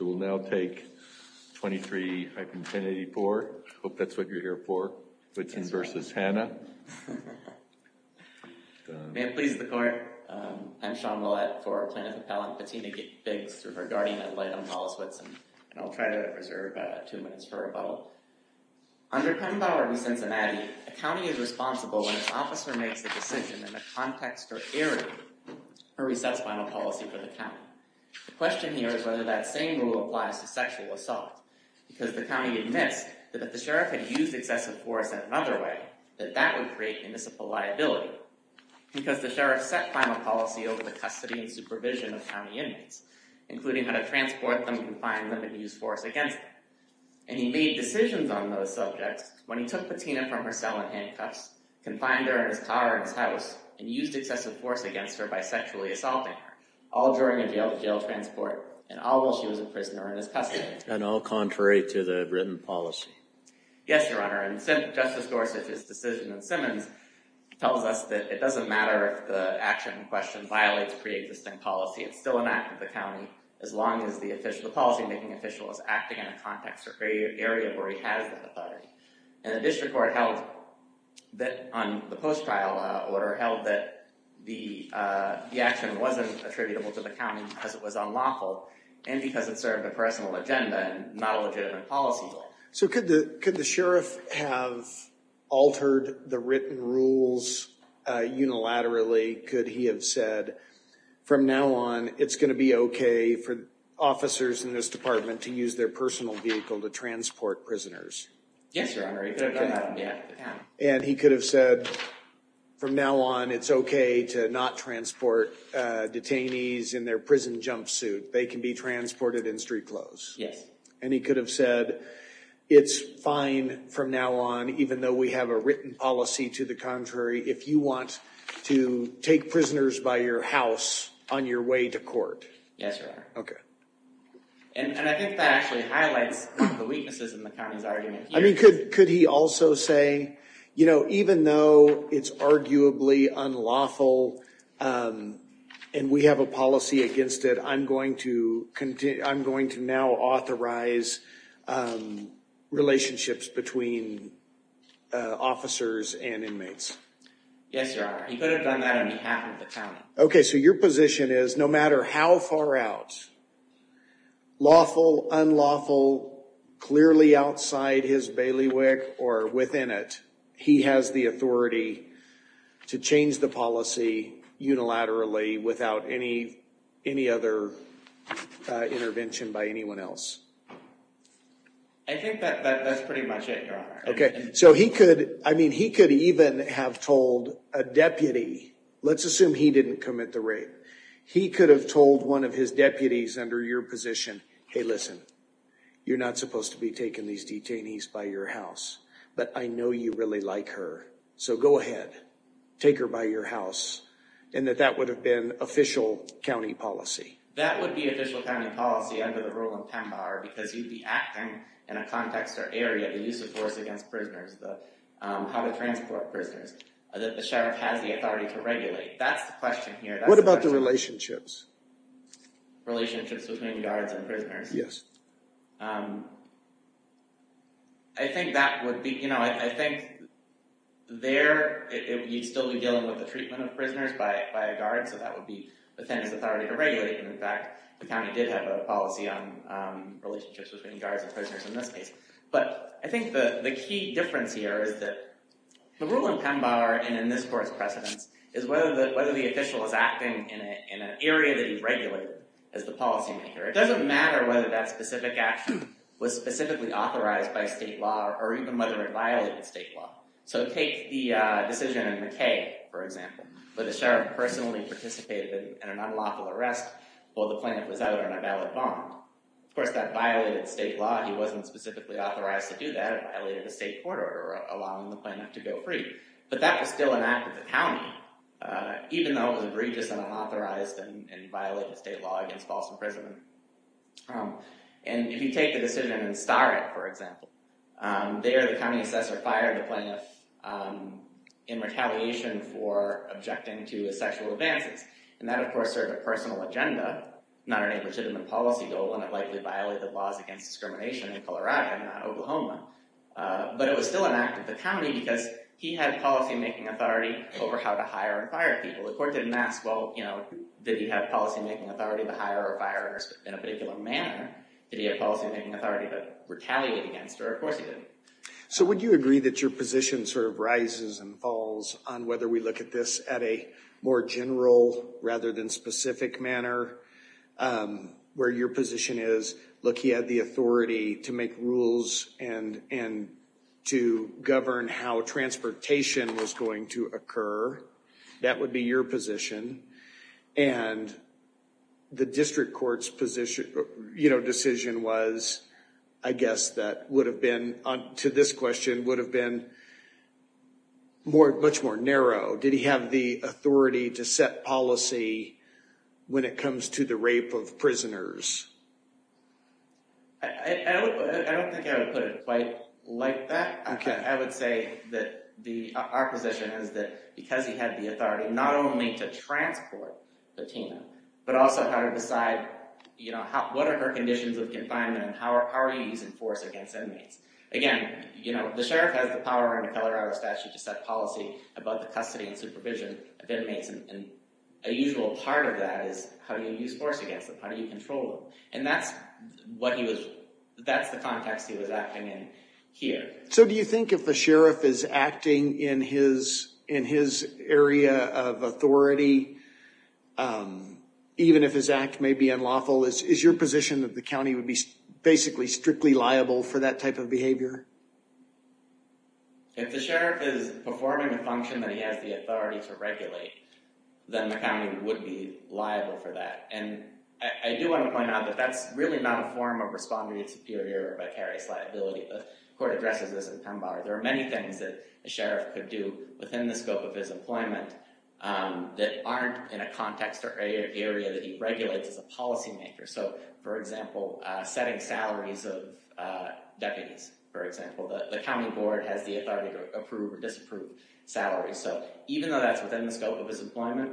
May it please the Court, I'm Sean Lillette for Plaintiff Appellant Patina Biggs, and I will try to reserve two minutes for rebuttal. Under Penn Bower v. Cincinnati, a county is responsible when its officer makes a decision in the context or area where he sets final policy for the county. The question here is whether that same rule applies to sexual assault, because the county admits that if the sheriff had used excessive force in another way, that that would create municipal liability. Because the sheriff set final policy over the custody and supervision of county inmates, including how to transport them, confine them, and use force against them. And he made decisions on those subjects when he took Patina from her cell in handcuffs, confined her in his car and his house, and used excessive force against her by sexually assaulting her, all during a jail-to-jail transport, and all while she was a prisoner in his custody. And all contrary to the written policy. Yes, Your Honor, and Justice Gorsuch's decision in Simmons tells us that it doesn't matter if the action in question violates pre-existing policy. It's still an act of the county, as long as the policy-making official is acting in a context or area where he has that authority. And the district court held that on the post-trial order held that the action wasn't attributable to the county because it was unlawful, and because it served a personal agenda and not a legitimate policy goal. So could the sheriff have altered the written rules unilaterally? Could he have said, from now on, it's going to be okay for officers in this department to use their personal vehicle to transport prisoners? Yes, Your Honor. And he could have said, from now on, it's okay to not transport detainees in their prison jumpsuit. They can be transported in street clothes. Yes. And he could have said, it's fine from now on, even though we have a written policy to the contrary, if you want to take prisoners by your house on your way to court. Yes, Your Honor. Okay. And I think that actually highlights the weaknesses in the county's argument here. I mean, could he also say, you know, even though it's arguably unlawful and we have a policy against it, I'm going to now authorize relationships between officers and inmates? Yes, Your Honor. He could have done that on behalf of the county. Okay, so your position is, no matter how far out, lawful, unlawful, clearly outside his bailiwick or within it, he has the authority to change the policy unilaterally without any other intervention by anyone else? I think that's pretty much it, Your Honor. Okay, so he could, I mean, he could even have told a deputy, let's assume he didn't commit the rape. He could have told one of his deputies under your position, hey, listen, you're not supposed to be taking these detainees by your house, but I know you really like her, so go ahead, take her by your house, and that that would have been official county policy. That would be official county policy under the rule of PEMBAR because you'd be acting in a context or area, the use of force against prisoners, how to transport prisoners. The sheriff has the authority to regulate. That's the question here. What about the relationships? Relationships between guards and prisoners? Yes. I think that would be, you know, I think there you'd still be dealing with the treatment of prisoners by a guard, so that would be the defendant's authority to regulate, and in fact, the county did have a policy on relationships between guards and prisoners in this case. But I think the key difference here is that the rule in PEMBAR and in this court's precedence is whether the official is acting in an area that he's regulated as the policymaker. It doesn't matter whether that specific action was specifically authorized by state law or even whether it violated state law. So take the decision in McKay, for example, where the sheriff personally participated in an unlawful arrest while the plaintiff was out on a valid bond. Of course, that violated state law. He wasn't specifically authorized to do that. It violated the state court order allowing the plaintiff to go free. But that was still an act of the county, even though it was egregious and unauthorized and violated state law against false imprisonment. And if you take the decision in Starrett, for example, there the county assessor fired the plaintiff in retaliation for objecting to his sexual advances. And that, of course, served a personal agenda, not a legitimate policy goal, and it likely violated the laws against discrimination in Colorado, not Oklahoma. But it was still an act of the county because he had policymaking authority over how to hire and fire people. The court didn't ask, well, you know, did he have policymaking authority to hire or fire in a particular manner? Did he have policymaking authority to retaliate against, or of course he didn't. So would you agree that your position sort of rises and falls on whether we look at this at a more general rather than specific manner? Where your position is, look, he had the authority to make rules and to govern how transportation was going to occur. That would be your position. And the district court's position, you know, decision was, I guess, that would have been, to this question, would have been much more narrow. Did he have the authority to set policy when it comes to the rape of prisoners? I don't think I would put it quite like that. I would say that our position is that because he had the authority not only to transport the team, but also how to decide, you know, what are her conditions of confinement and how are you using force against inmates? Again, you know, the sheriff has the power in a Colorado statute to set policy about the custody and supervision of inmates, and a usual part of that is how do you use force against them? How do you control them? And that's what he was, that's the context he was acting in here. So do you think if the sheriff is acting in his area of authority, even if his act may be unlawful, is your position that the county would be basically strictly liable for that type of behavior? If the sheriff is performing a function that he has the authority to regulate, then the county would be liable for that. And I do want to point out that that's really not a form of respondeat superior or vicarious liability. The court addresses this in PEMBAR. There are many things that a sheriff could do within the scope of his employment that aren't in a context or area that he regulates as a policymaker. So, for example, setting salaries of deputies, for example. The county board has the authority to approve or disapprove salaries. So even though that's within the scope of his employment,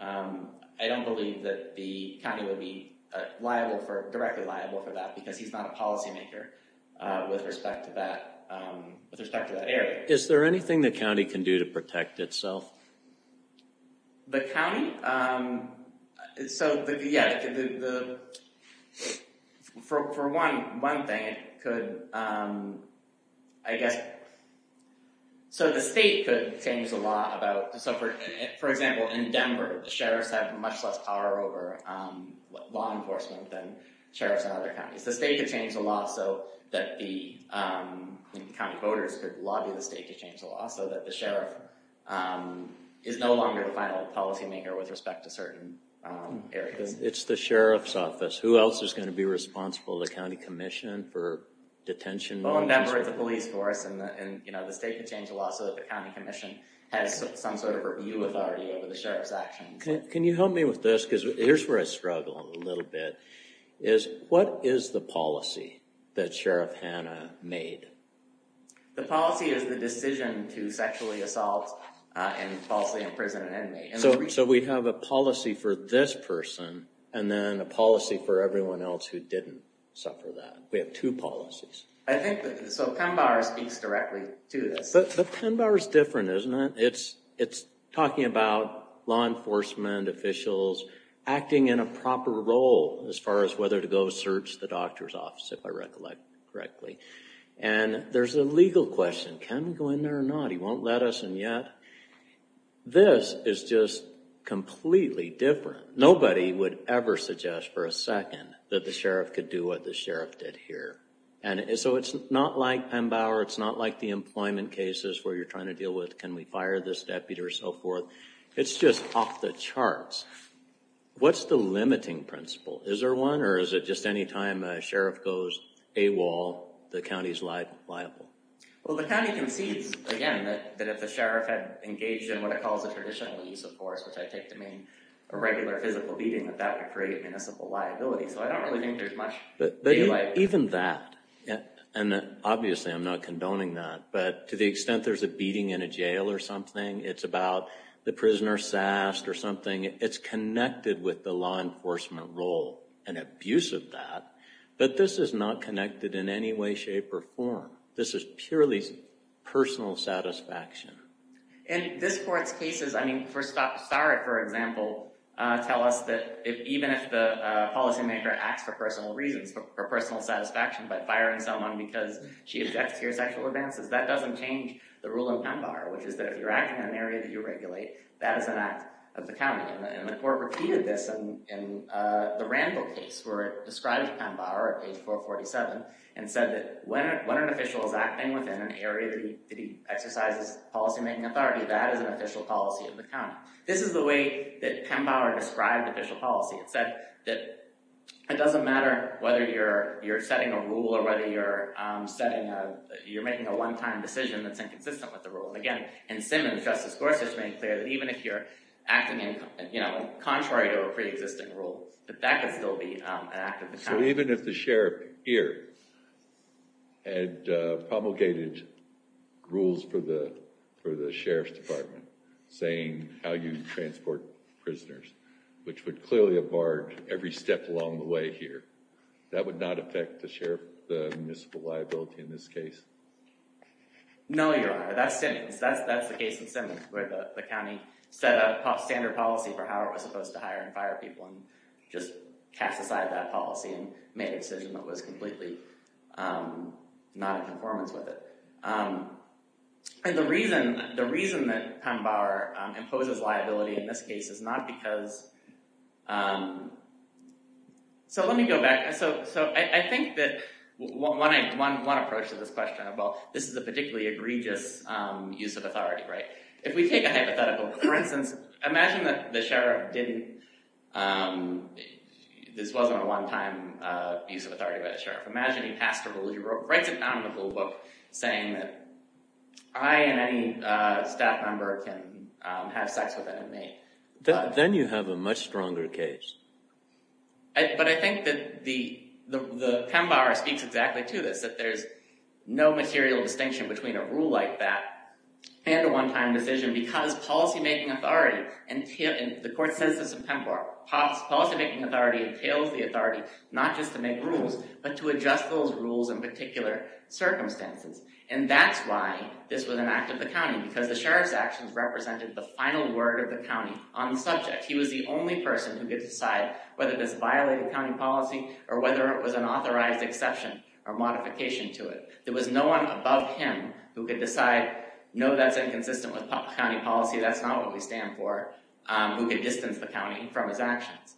I don't believe that the county would be liable for, directly liable for that because he's not a policymaker with respect to that area. Is there anything the county can do to protect itself? The county? So, yeah, for one thing, it could, I guess, so the state could change the law about, so for example, in Denver, the sheriffs have much less power over law enforcement than sheriffs in other counties. The state could change the law so that the county voters could lobby the state to change the law so that the sheriff is no longer the final policymaker with respect to certain areas. It's the sheriff's office. Who else is going to be responsible? The county commission for detention? Well, in Denver, it's the police force and the state could change the law so that the county commission has some sort of review authority over the sheriff's actions. Can you help me with this? Because here's where I struggle a little bit. What is the policy that Sheriff Hanna made? The policy is the decision to sexually assault and falsely imprison an inmate. So we have a policy for this person and then a policy for everyone else who didn't suffer that. We have two policies. I think, so Penn Bar speaks directly to this. But Penn Bar is different, isn't it? It's talking about law enforcement officials acting in a proper role as far as whether to go search the doctor's office, if I recollect correctly. And there's a legal question. Can we go in there or not? He won't let us in yet. This is just completely different. Nobody would ever suggest for a second that the sheriff could do what the sheriff did here. So it's not like Penn Bar, it's not like the employment cases where you're trying to deal with can we fire this deputy or so forth. It's just off the charts. What's the limiting principle? Is there one or is it just any time a sheriff goes AWOL, the county's liable? Well, the county concedes, again, that if the sheriff had engaged in what it calls a traditional use of force, which I take to mean a regular physical beating, that that would create municipal liability. So I don't really think there's much daylight. Even that, and obviously I'm not condoning that, but to the extent there's a beating in a jail or something, it's about the prisoner sassed or something, it's connected with the law enforcement role and abuse of that. But this is not connected in any way, shape, or form. This is purely personal satisfaction. And this court's cases, I mean, for Starrett, for example, tell us that even if the policymaker acts for personal reasons, for personal satisfaction by firing someone because she objects to your sexual advances, that doesn't change the rule in Penn Bar, which is that if you're acting in an area that you regulate, that is an act of the county. And the court repeated this in the Randall case, where it described Penn Bar at page 447 and said that when an official is acting within an area that he exercises policymaking authority, that is an official policy of the county. This is the way that Penn Bar described official policy. It said that it doesn't matter whether you're setting a rule or whether you're making a one-time decision that's inconsistent with the rule. And again, in Simmons, Justice Gorsuch made clear that even if you're acting contrary to a preexisting rule, that that could still be an act of the county. So even if the sheriff here had promulgated rules for the sheriff's department, saying how you transport prisoners, which would clearly have barred every step along the way here, that would not affect the municipal liability in this case? No, Your Honor. That's Simmons. That's the case in Simmons, where the county set a standard policy for how it was supposed to hire and fire people and just cast aside that policy and made a decision that was completely not in conformance with it. And the reason that Penn Bar imposes liability in this case is not because—so let me go back. So I think that one approach to this question—well, this is a particularly egregious use of authority, right? If we take a hypothetical—for instance, imagine that the sheriff didn't—this wasn't a one-time use of authority by the sheriff. Imagine he passed a rule—he writes a nominable book saying that I and any staff member can have sex with an inmate. Then you have a much stronger case. But I think that the Penn Bar speaks exactly to this, that there's no material distinction between a rule like that and a one-time decision because policymaking authority—and the court says this in Penn Bar—policymaking authority entails the authority not just to make rules, but to adjust those rules in particular circumstances. And that's why this was an act of the county, because the sheriff's actions represented the final word of the county on the subject. He was the only person who could decide whether this violated county policy or whether it was an authorized exception or modification to it. There was no one above him who could decide, no, that's inconsistent with county policy, that's not what we stand for, who could distance the county from his actions.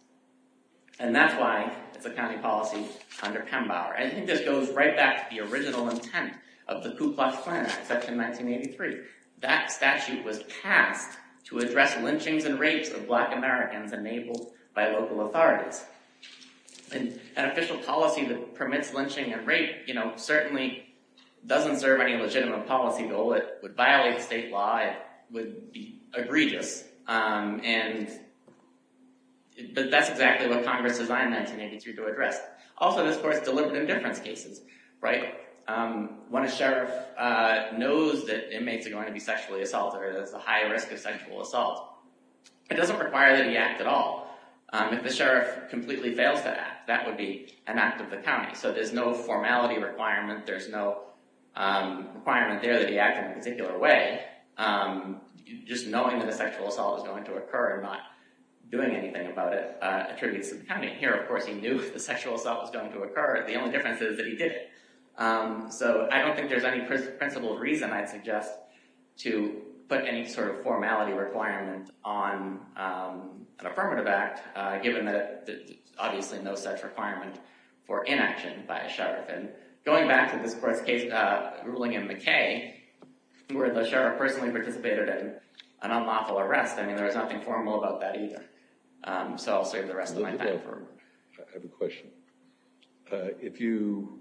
And that's why it's a county policy under Penn Bar. I think this goes right back to the original intent of the Ku Klux Klan Act, Section 1983. That statute was passed to address lynchings and rapes of black Americans enabled by local authorities. An official policy that permits lynching and rape certainly doesn't serve any legitimate policy goal. It would violate state law, it would be egregious, but that's exactly what Congress designed 1983 to address. Also, of course, deliberate indifference cases, right? When a sheriff knows that inmates are going to be sexually assaulted or there's a high risk of sexual assault, it doesn't require that he act at all. If the sheriff completely fails to act, that would be an act of the county. So there's no formality requirement, there's no requirement there that he act in a particular way. Just knowing that a sexual assault is going to occur and not doing anything about it attributes to the county. And here, of course, he knew if the sexual assault was going to occur, the only difference is that he did it. So I don't think there's any principled reason, I'd suggest, to put any sort of formality requirement on an affirmative act, given that there's obviously no such requirement for inaction by a sheriff. And going back to this court's ruling in McKay, where the sheriff personally participated in an unlawful arrest, I mean, there was nothing formal about that either. So I'll save the rest of my time. I have a question. If you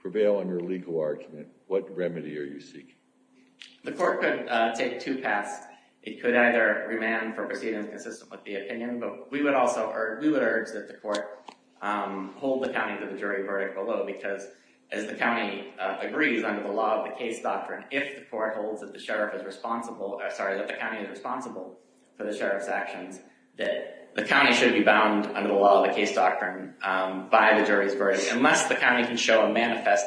prevail on your legal argument, what remedy are you seeking? The court could take two paths. It could either remand for proceedings consistent with the opinion, but we would also urge that the court hold the county to the jury verdict below, because as the county agrees under the law of the case doctrine, if the court holds that the county is responsible for the sheriff's actions, that the county should be bound under the law of the case doctrine by the jury's verdict, unless the county can show a manifest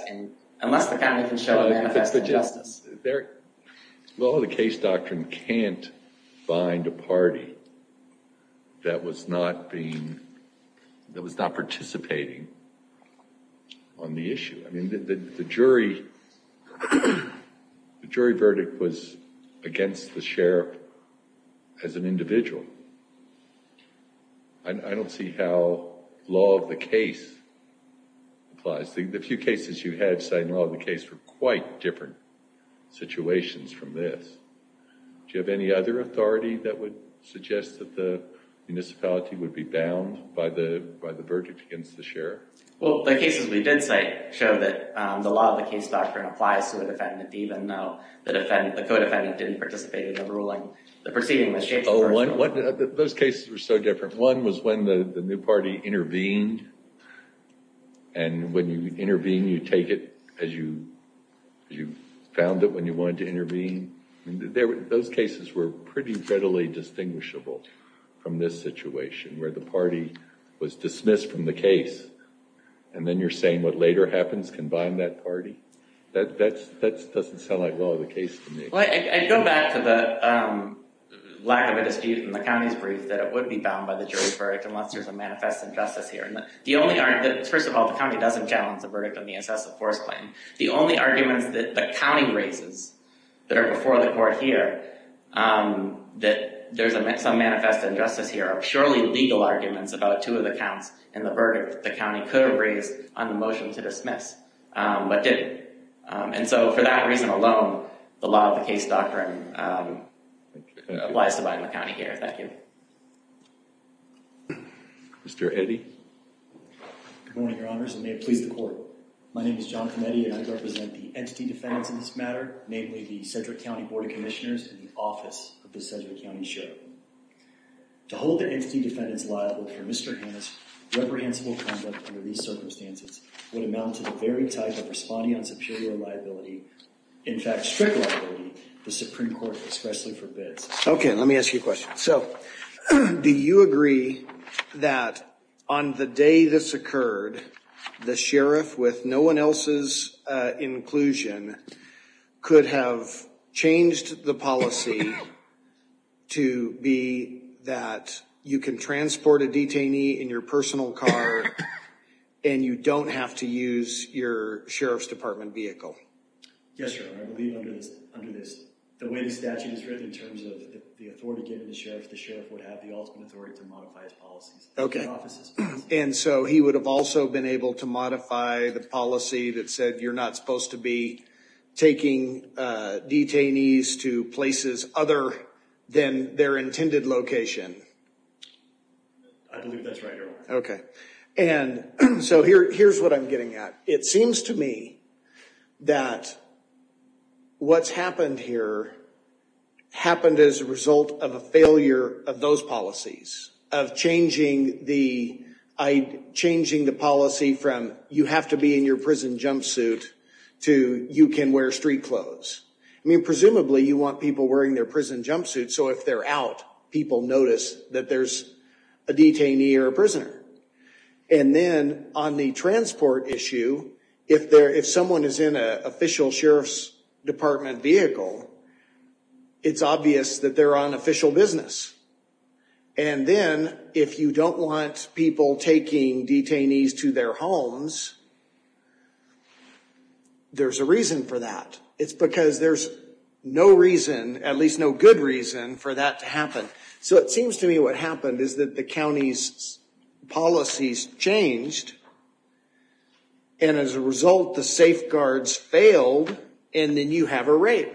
injustice. Well, the case doctrine can't bind a party that was not participating on the issue. I mean, the jury verdict was against the sheriff as an individual. I don't see how law of the case applies. The few cases you had citing law of the case were quite different situations from this. Do you have any other authority that would suggest that the municipality would be bound by the verdict against the sheriff? Well, the cases we did cite show that the law of the case doctrine applies to a defendant, even though the co-defendant didn't participate in the ruling. The proceeding was changed personally. Those cases were so different. One was when the new party intervened, and when you intervene, you take it as you found it when you wanted to intervene. Those cases were pretty readily distinguishable from this situation, where the party was dismissed from the case, and then you're saying what later happens can bind that party? That doesn't sound like law of the case to me. Well, I'd go back to the lack of a dispute in the county's brief that it would be bound by the jury's verdict unless there's a manifest injustice here. First of all, the county doesn't challenge the verdict on the excessive force claim. The only arguments that the county raises that are before the court here, that there's some manifest injustice here, are surely legal arguments about two of the counts in the verdict that the county could have raised on the motion to dismiss, but didn't. For that reason alone, the law of the case doctrine applies to Biden County here. Thank you. Mr. Heddy? Good morning, your honors, and may it please the court. My name is John Hennedy, and I represent the entity defendants in this matter, namely the Cedric County Board of Commissioners and the office of the Cedric County Sheriff. To hold the entity defendants liable for Mr. Hannis' reprehensible conduct under these circumstances would amount to the very type of responding on superior liability, in fact, strict liability, the Supreme Court expressly forbids. Okay, let me ask you a question. So, do you agree that on the day this occurred, the sheriff, with no one else's inclusion, could have changed the policy to be that you can transport a detainee in your personal car and you don't have to use your sheriff's department vehicle? Yes, your honor, I believe under this, the way the statute is written in terms of the authority given to the sheriff, the sheriff would have the ultimate authority to modify his policies. Okay, and so he would have also been able to modify the policy that said you're not supposed to be taking detainees to places other than their intended location? I believe that's right, your honor. Okay, and so here's what I'm getting at. It seems to me that what's happened here happened as a result of a failure of those policies, of changing the policy from you have to be in your prison jumpsuit to you can wear street clothes. I mean, presumably you want people wearing their prison jumpsuits so if they're out, people notice that there's a detainee or a prisoner. And then on the transport issue, if someone is in an official sheriff's department vehicle, it's obvious that they're on official business. And then if you don't want people taking detainees to their homes, there's a reason for that. It's because there's no reason, at least no good reason, for that to happen. So it seems to me what happened is that the county's policies changed, and as a result the safeguards failed, and then you have a rape.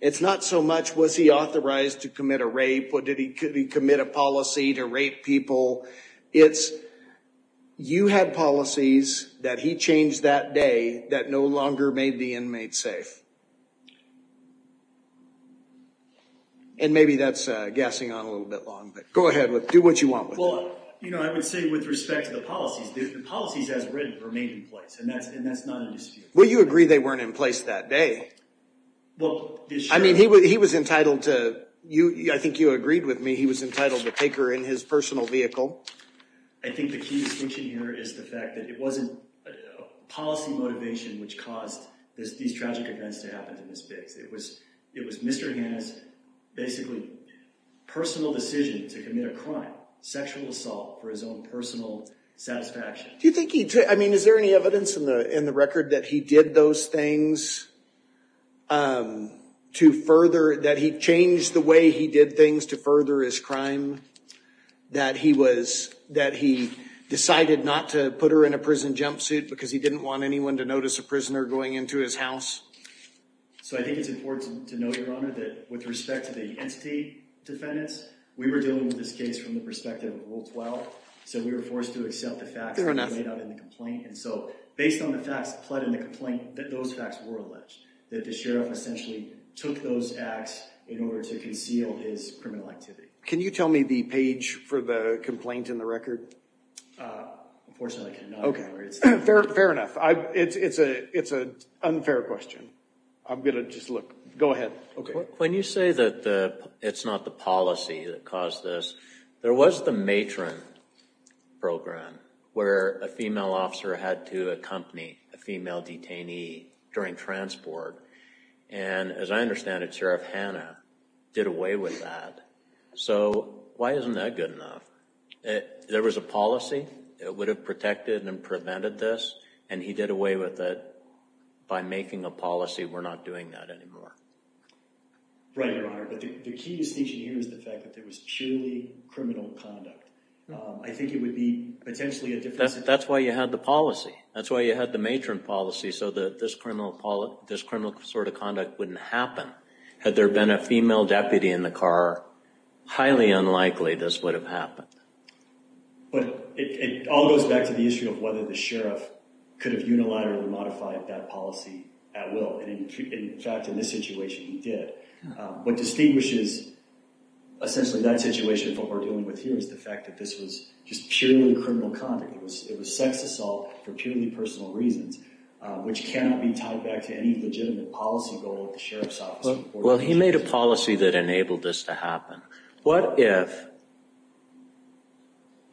It's not so much was he authorized to commit a rape, or did he commit a policy to rape people, it's you had policies that he changed that day that no longer made the inmate safe. And maybe that's gassing on a little bit long, but go ahead, do what you want with it. Well, you know, I would say with respect to the policies, the policies as written remain in place, and that's not a dispute. Well, you agree they weren't in place that day. Well, the sheriff... I think the key distinction here is the fact that it wasn't policy motivation which caused these tragic events to happen to Ms. Biggs. It was Mr. Hanna's basically personal decision to commit a crime, sexual assault for his own personal satisfaction. Do you think he... I mean, is there any evidence in the record that he did those things to further... evidence that he decided not to put her in a prison jumpsuit because he didn't want anyone to notice a prisoner going into his house? So I think it's important to note, Your Honor, that with respect to the entity defendants, we were dealing with this case from the perspective of Rule 12, so we were forced to accept the facts that were laid out in the complaint. And so based on the facts applied in the complaint, those facts were alleged, that the sheriff essentially took those acts in order to conceal his criminal activity. Can you tell me the page for the complaint in the record? Unfortunately, I cannot. Fair enough. It's an unfair question. I'm going to just look. Go ahead. When you say that it's not the policy that caused this, there was the matron program where a female officer had to accompany a female detainee during transport. And as I understand it, Sheriff Hanna did away with that. So why isn't that good enough? There was a policy that would have protected and prevented this, and he did away with it by making a policy, we're not doing that anymore. Right, Your Honor, but the key distinction here is the fact that there was purely criminal conduct. I think it would be potentially a difference... That's why you had the policy. That's why you had the matron policy, so this criminal sort of conduct wouldn't happen. Had there been a female deputy in the car, highly unlikely this would have happened. But it all goes back to the issue of whether the sheriff could have unilaterally modified that policy at will. And in fact, in this situation, he did. What distinguishes essentially that situation from what we're dealing with here is the fact that this was just purely criminal conduct. It was sex assault for purely personal reasons, which cannot be tied back to any legitimate policy goal that the sheriff's office... Well, he made a policy that enabled this to happen. What if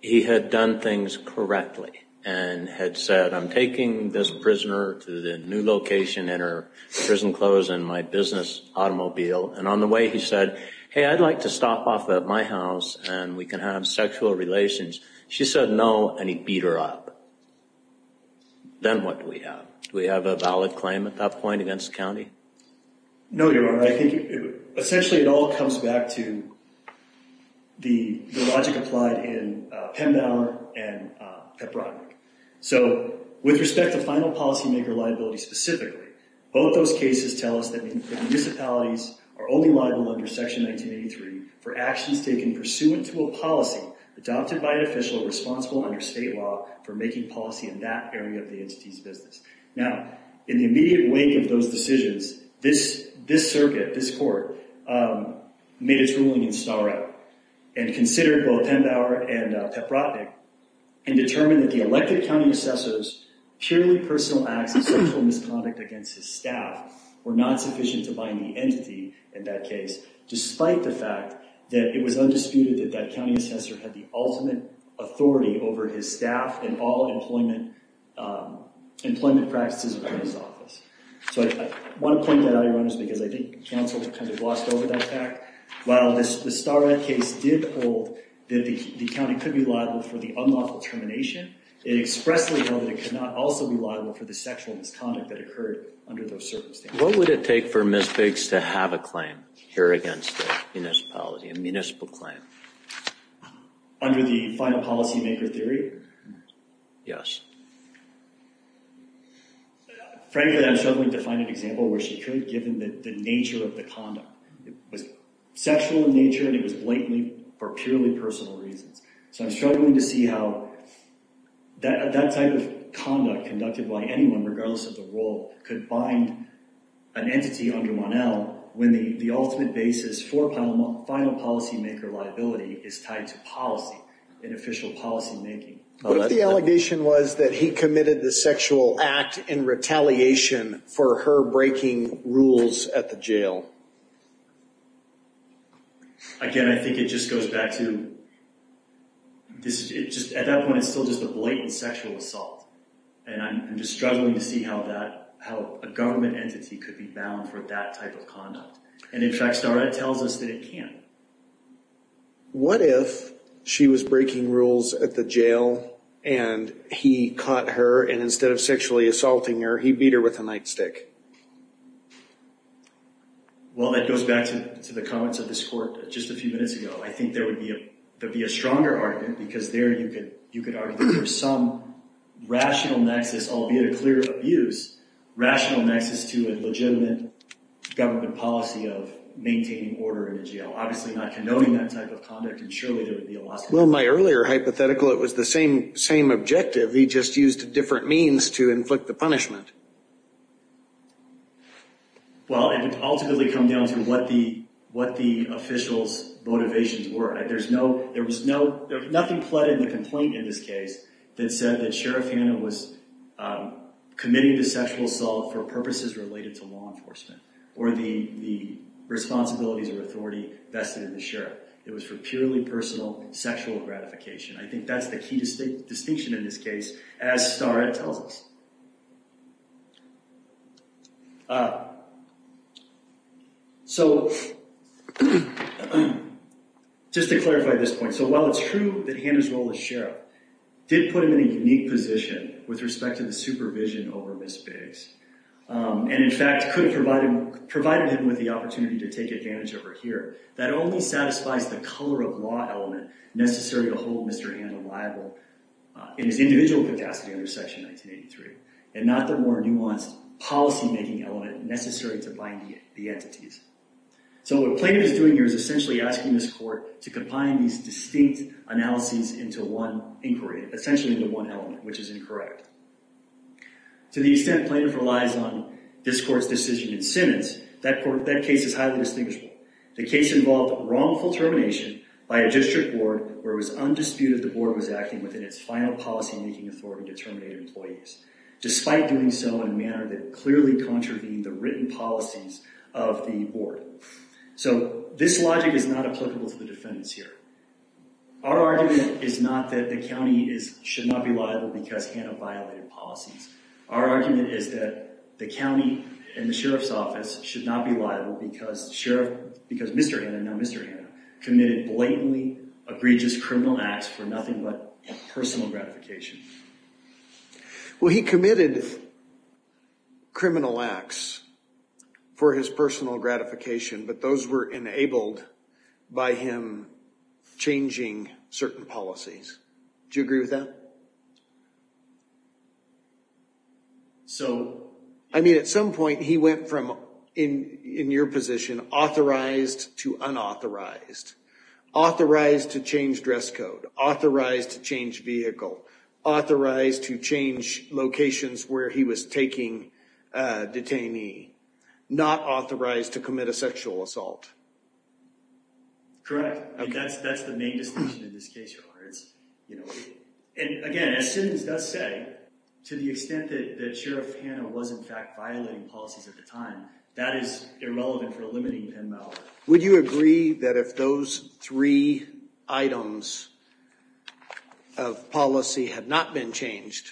he had done things correctly and had said, I'm taking this prisoner to the new location in her prison clothes and my business automobile, and on the way he said, hey, I'd like to stop off at my house and we can have sexual relations. She said no, and he beat her up. Then what do we have? Do we have a valid claim at that point against the county? No, Your Honor. I think essentially it all comes back to the logic applied in Pembauer and Pepbrodny. So with respect to final policymaker liability specifically, both those cases tell us that municipalities are only liable under Section 1983 for actions taken pursuant to a policy adopted by an official responsible under state law for making policy in that area of the entity's business. Now, in the immediate wake of those decisions, this circuit, this court, made its ruling in Storrow and considered both Pembauer and Pepbrodny and determined that the elected county assessor's purely personal acts of sexual misconduct against his staff were not sufficient to bind the entity in that case, despite the fact that it was undisputed that that county assessor had the ultimate authority over his staff and all employment practices within his office. So I want to point that out, Your Honor, because I think counsel kind of glossed over that fact. While the Storrow case did hold that the county could be liable for the unlawful termination, it expressly held that it could not also be liable for the sexual misconduct that occurred under those circumstances. What would it take for Ms. Biggs to have a claim here against the municipality, a municipal claim? Under the final policymaker theory? Yes. Frankly, I'm struggling to find an example where she could, given the nature of the conduct. It was sexual in nature and it was blatantly for purely personal reasons. So I'm struggling to see how that type of conduct conducted by anyone, regardless of the role, could bind an entity under Mon-El when the ultimate basis for final policymaker liability is tied to policy, and official policymaking. What if the allegation was that he committed the sexual act in retaliation for her breaking rules at the jail? Again, I think it just goes back to, at that point, it's still just a blatant sexual assault. And I'm just struggling to see how a government entity could be bound for that type of conduct. And in fact, Starrett tells us that it can't. What if she was breaking rules at the jail and he caught her and instead of sexually assaulting her, he beat her with a nightstick? Well, that goes back to the comments of this court just a few minutes ago. I think there would be a stronger argument because there you could argue that there's some rational nexus, albeit a clear abuse, rational nexus to a legitimate government policy of maintaining order in a jail. Obviously not condoning that type of conduct and surely there would be a loss. Well, in my earlier hypothetical, it was the same objective. He just used different means to inflict the punishment. Well, it would ultimately come down to what the official's motivations were. There was nothing pled in the complaint in this case that said that Sheriff Hanna was committing the sexual assault for purposes related to law enforcement or the responsibilities or authority vested in the sheriff. It was for purely personal sexual gratification. I think that's the key distinction in this case as Starrett tells us. So, just to clarify this point. So, while it's true that Hanna's role as sheriff did put him in a unique position with respect to the supervision over Ms. Biggs and in fact could have provided him with the opportunity to take advantage of her here, that only satisfies the color of law element necessary to hold Mr. Hanna liable in his individual capacity under Section 1983 and not the more nuanced policy-making element necessary to bind the entities. So, what Plaintiff is doing here is essentially asking this court to combine these distinct analyses into one inquiry, essentially into one element, which is incorrect. To the extent Plaintiff relies on this court's decision in sentence, that case is highly distinguishable. The case involved wrongful termination by a district board where it was undisputed the board was acting within its final policy-making authority to terminate employees, despite doing so in a manner that clearly contravened the written policies of the board. So, this logic is not applicable to the defendants here. Our argument is not that the county should not be liable because Hanna violated policies. Our argument is that the county and the sheriff's office should not be liable because Mr. Hanna committed blatantly egregious criminal acts for nothing but personal gratification. Well, he committed criminal acts for his personal gratification, but those were enabled by him changing certain policies. Do you agree with that? I mean, at some point he went from, in your position, authorized to unauthorized. Authorized to change dress code. Authorized to change vehicle. Authorized to change locations where he was taking a detainee. Not authorized to commit a sexual assault. Correct. That's the main distinction in this case, Your Honor. And again, as Simmons does say, to the extent that Sheriff Hanna was in fact violating policies at the time, that is irrelevant for eliminating Penn Mallory. Would you agree that if those three items of policy had not been changed,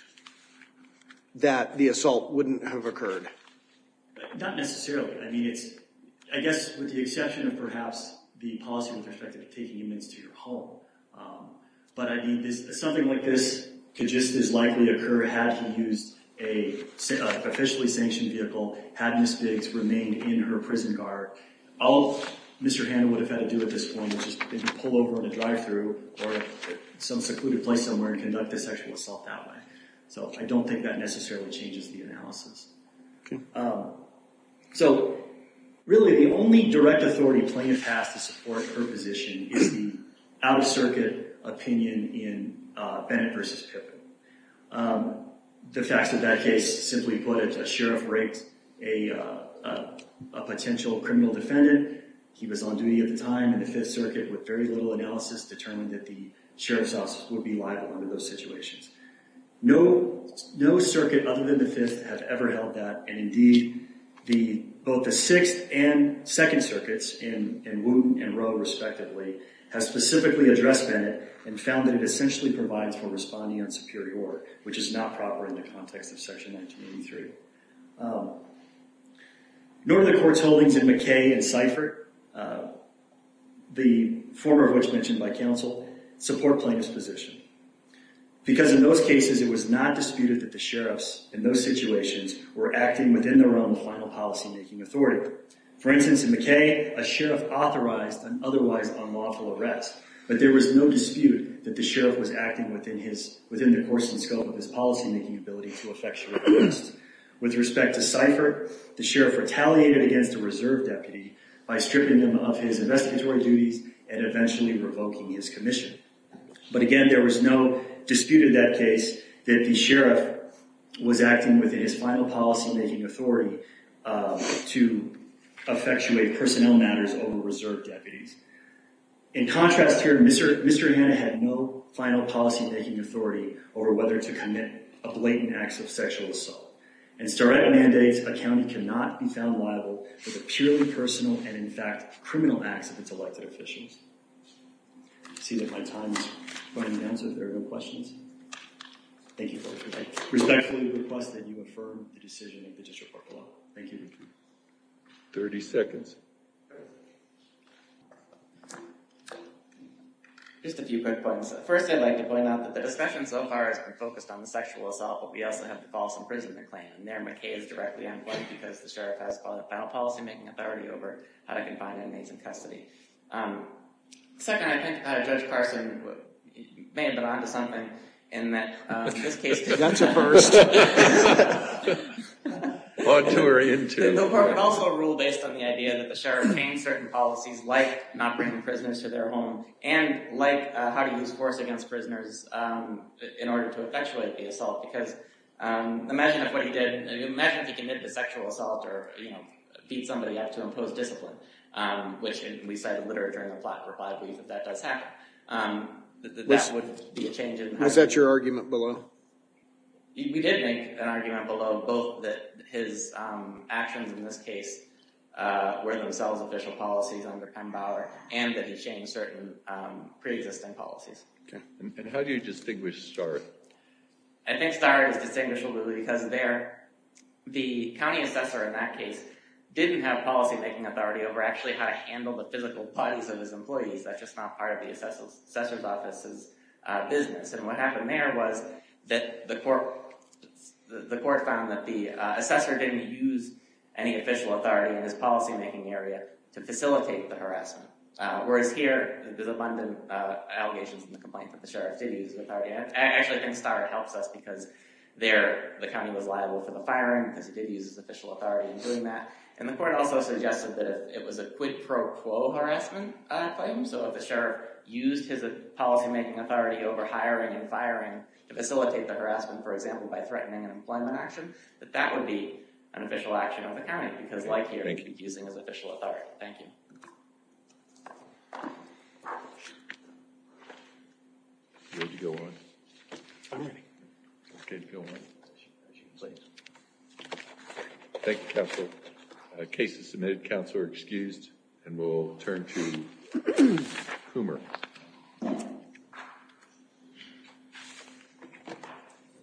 that the assault wouldn't have occurred? Not necessarily. I mean, I guess with the exception of perhaps the policy with respect to taking inmates to your home. But I mean, something like this could just as likely occur had he used an officially sanctioned vehicle, had Ms. Biggs remained in her prison guard. All Mr. Hanna would have had to do at this point would have been to pull over at a drive-thru or some secluded place somewhere and conduct a sexual assault that way. So I don't think that necessarily changes the analysis. So really the only direct authority plaintiff has to support her position is the out-of-circuit opinion in Bennett v. Pippen. The facts of that case simply put, a sheriff raped a potential criminal defendant. He was on duty at the time in the Fifth Circuit with very little analysis determined that the sheriff's office would be liable under those situations. No circuit other than the Fifth have ever held that, and indeed both the Sixth and Second Circuits in Wooten and Rowe respectively, have specifically addressed Bennett and found that it essentially provides for responding on superior order, which is not proper in the context of Section 1983. Nor do the courts holdings in McKay and Seifert, the former of which mentioned by counsel, support plaintiff's position. Because in those cases it was not disputed that the sheriffs in those situations were acting within their own final policymaking authority. For instance, in McKay, a sheriff authorized an otherwise unlawful arrest, but there was no dispute that the sheriff was acting within the course and scope of his policymaking ability to effectual arrest. With respect to Seifert, the sheriff retaliated against a reserve deputy by stripping him of his investigatory duties and eventually revoking his commission. But again, there was no dispute in that case that the sheriff was acting within his final policymaking authority to effectuate personnel matters over reserve deputies. In contrast here, Mr. Hanna had no final policymaking authority over whether to commit a blatant act of sexual assault. In sterile mandates, a county cannot be found liable for the purely personal and, in fact, criminal acts of its elected officials. I see that my time is running down, so if there are no questions, I respectfully request that you affirm the decision of the District Court of Law. Thank you. 30 seconds. Just a few quick points. First, I'd like to point out that the discussion so far has been focused on the sexual assault, but we also have the false imprisonment claim. There, McKay is directly on point because the sheriff has final policymaking authority over how to confine inmates in custody. Second, I think Judge Carson may have been on to something in that this case… Gun to first. Or two are in too. The court would also rule based on the idea that the sheriff obtained certain policies like not bringing prisoners to their home and like how to use force against prisoners in order to effectuate the assault. Because imagine if what he did, imagine if he committed a sexual assault or beat somebody up to impose discipline, which we cited literature in the plot for five weeks that that does happen. Was that your argument below? We did make an argument below both that his actions in this case were themselves official policies under Penn Bauer and that he changed certain pre-existing policies. And how do you distinguish the story? I think the story is distinguishable because there the county assessor in that case didn't have policymaking authority over actually how to handle the physical bodies of his employees. That's just not part of the assessor's office's business. And what happened there was that the court found that the assessor didn't use any official authority in his policymaking area to facilitate the harassment. Whereas here, there's abundant allegations in the complaint that the sheriff did use his authority. I actually think Starr helps us because there the county was liable for the firing because he did use his official authority in doing that. And the court also suggested that it was a quid pro quo harassment claim. So if the sheriff used his policymaking authority over hiring and firing to facilitate the harassment, for example, by threatening an employment action, that that would be an official action of the county. Because like here, he'd be using his official authority. Thank you. Are you ready to go on? I'm ready. Okay, go on. Please. Thank you, counsel. The case is submitted. Counsel are excused. And we'll turn to Hoomer.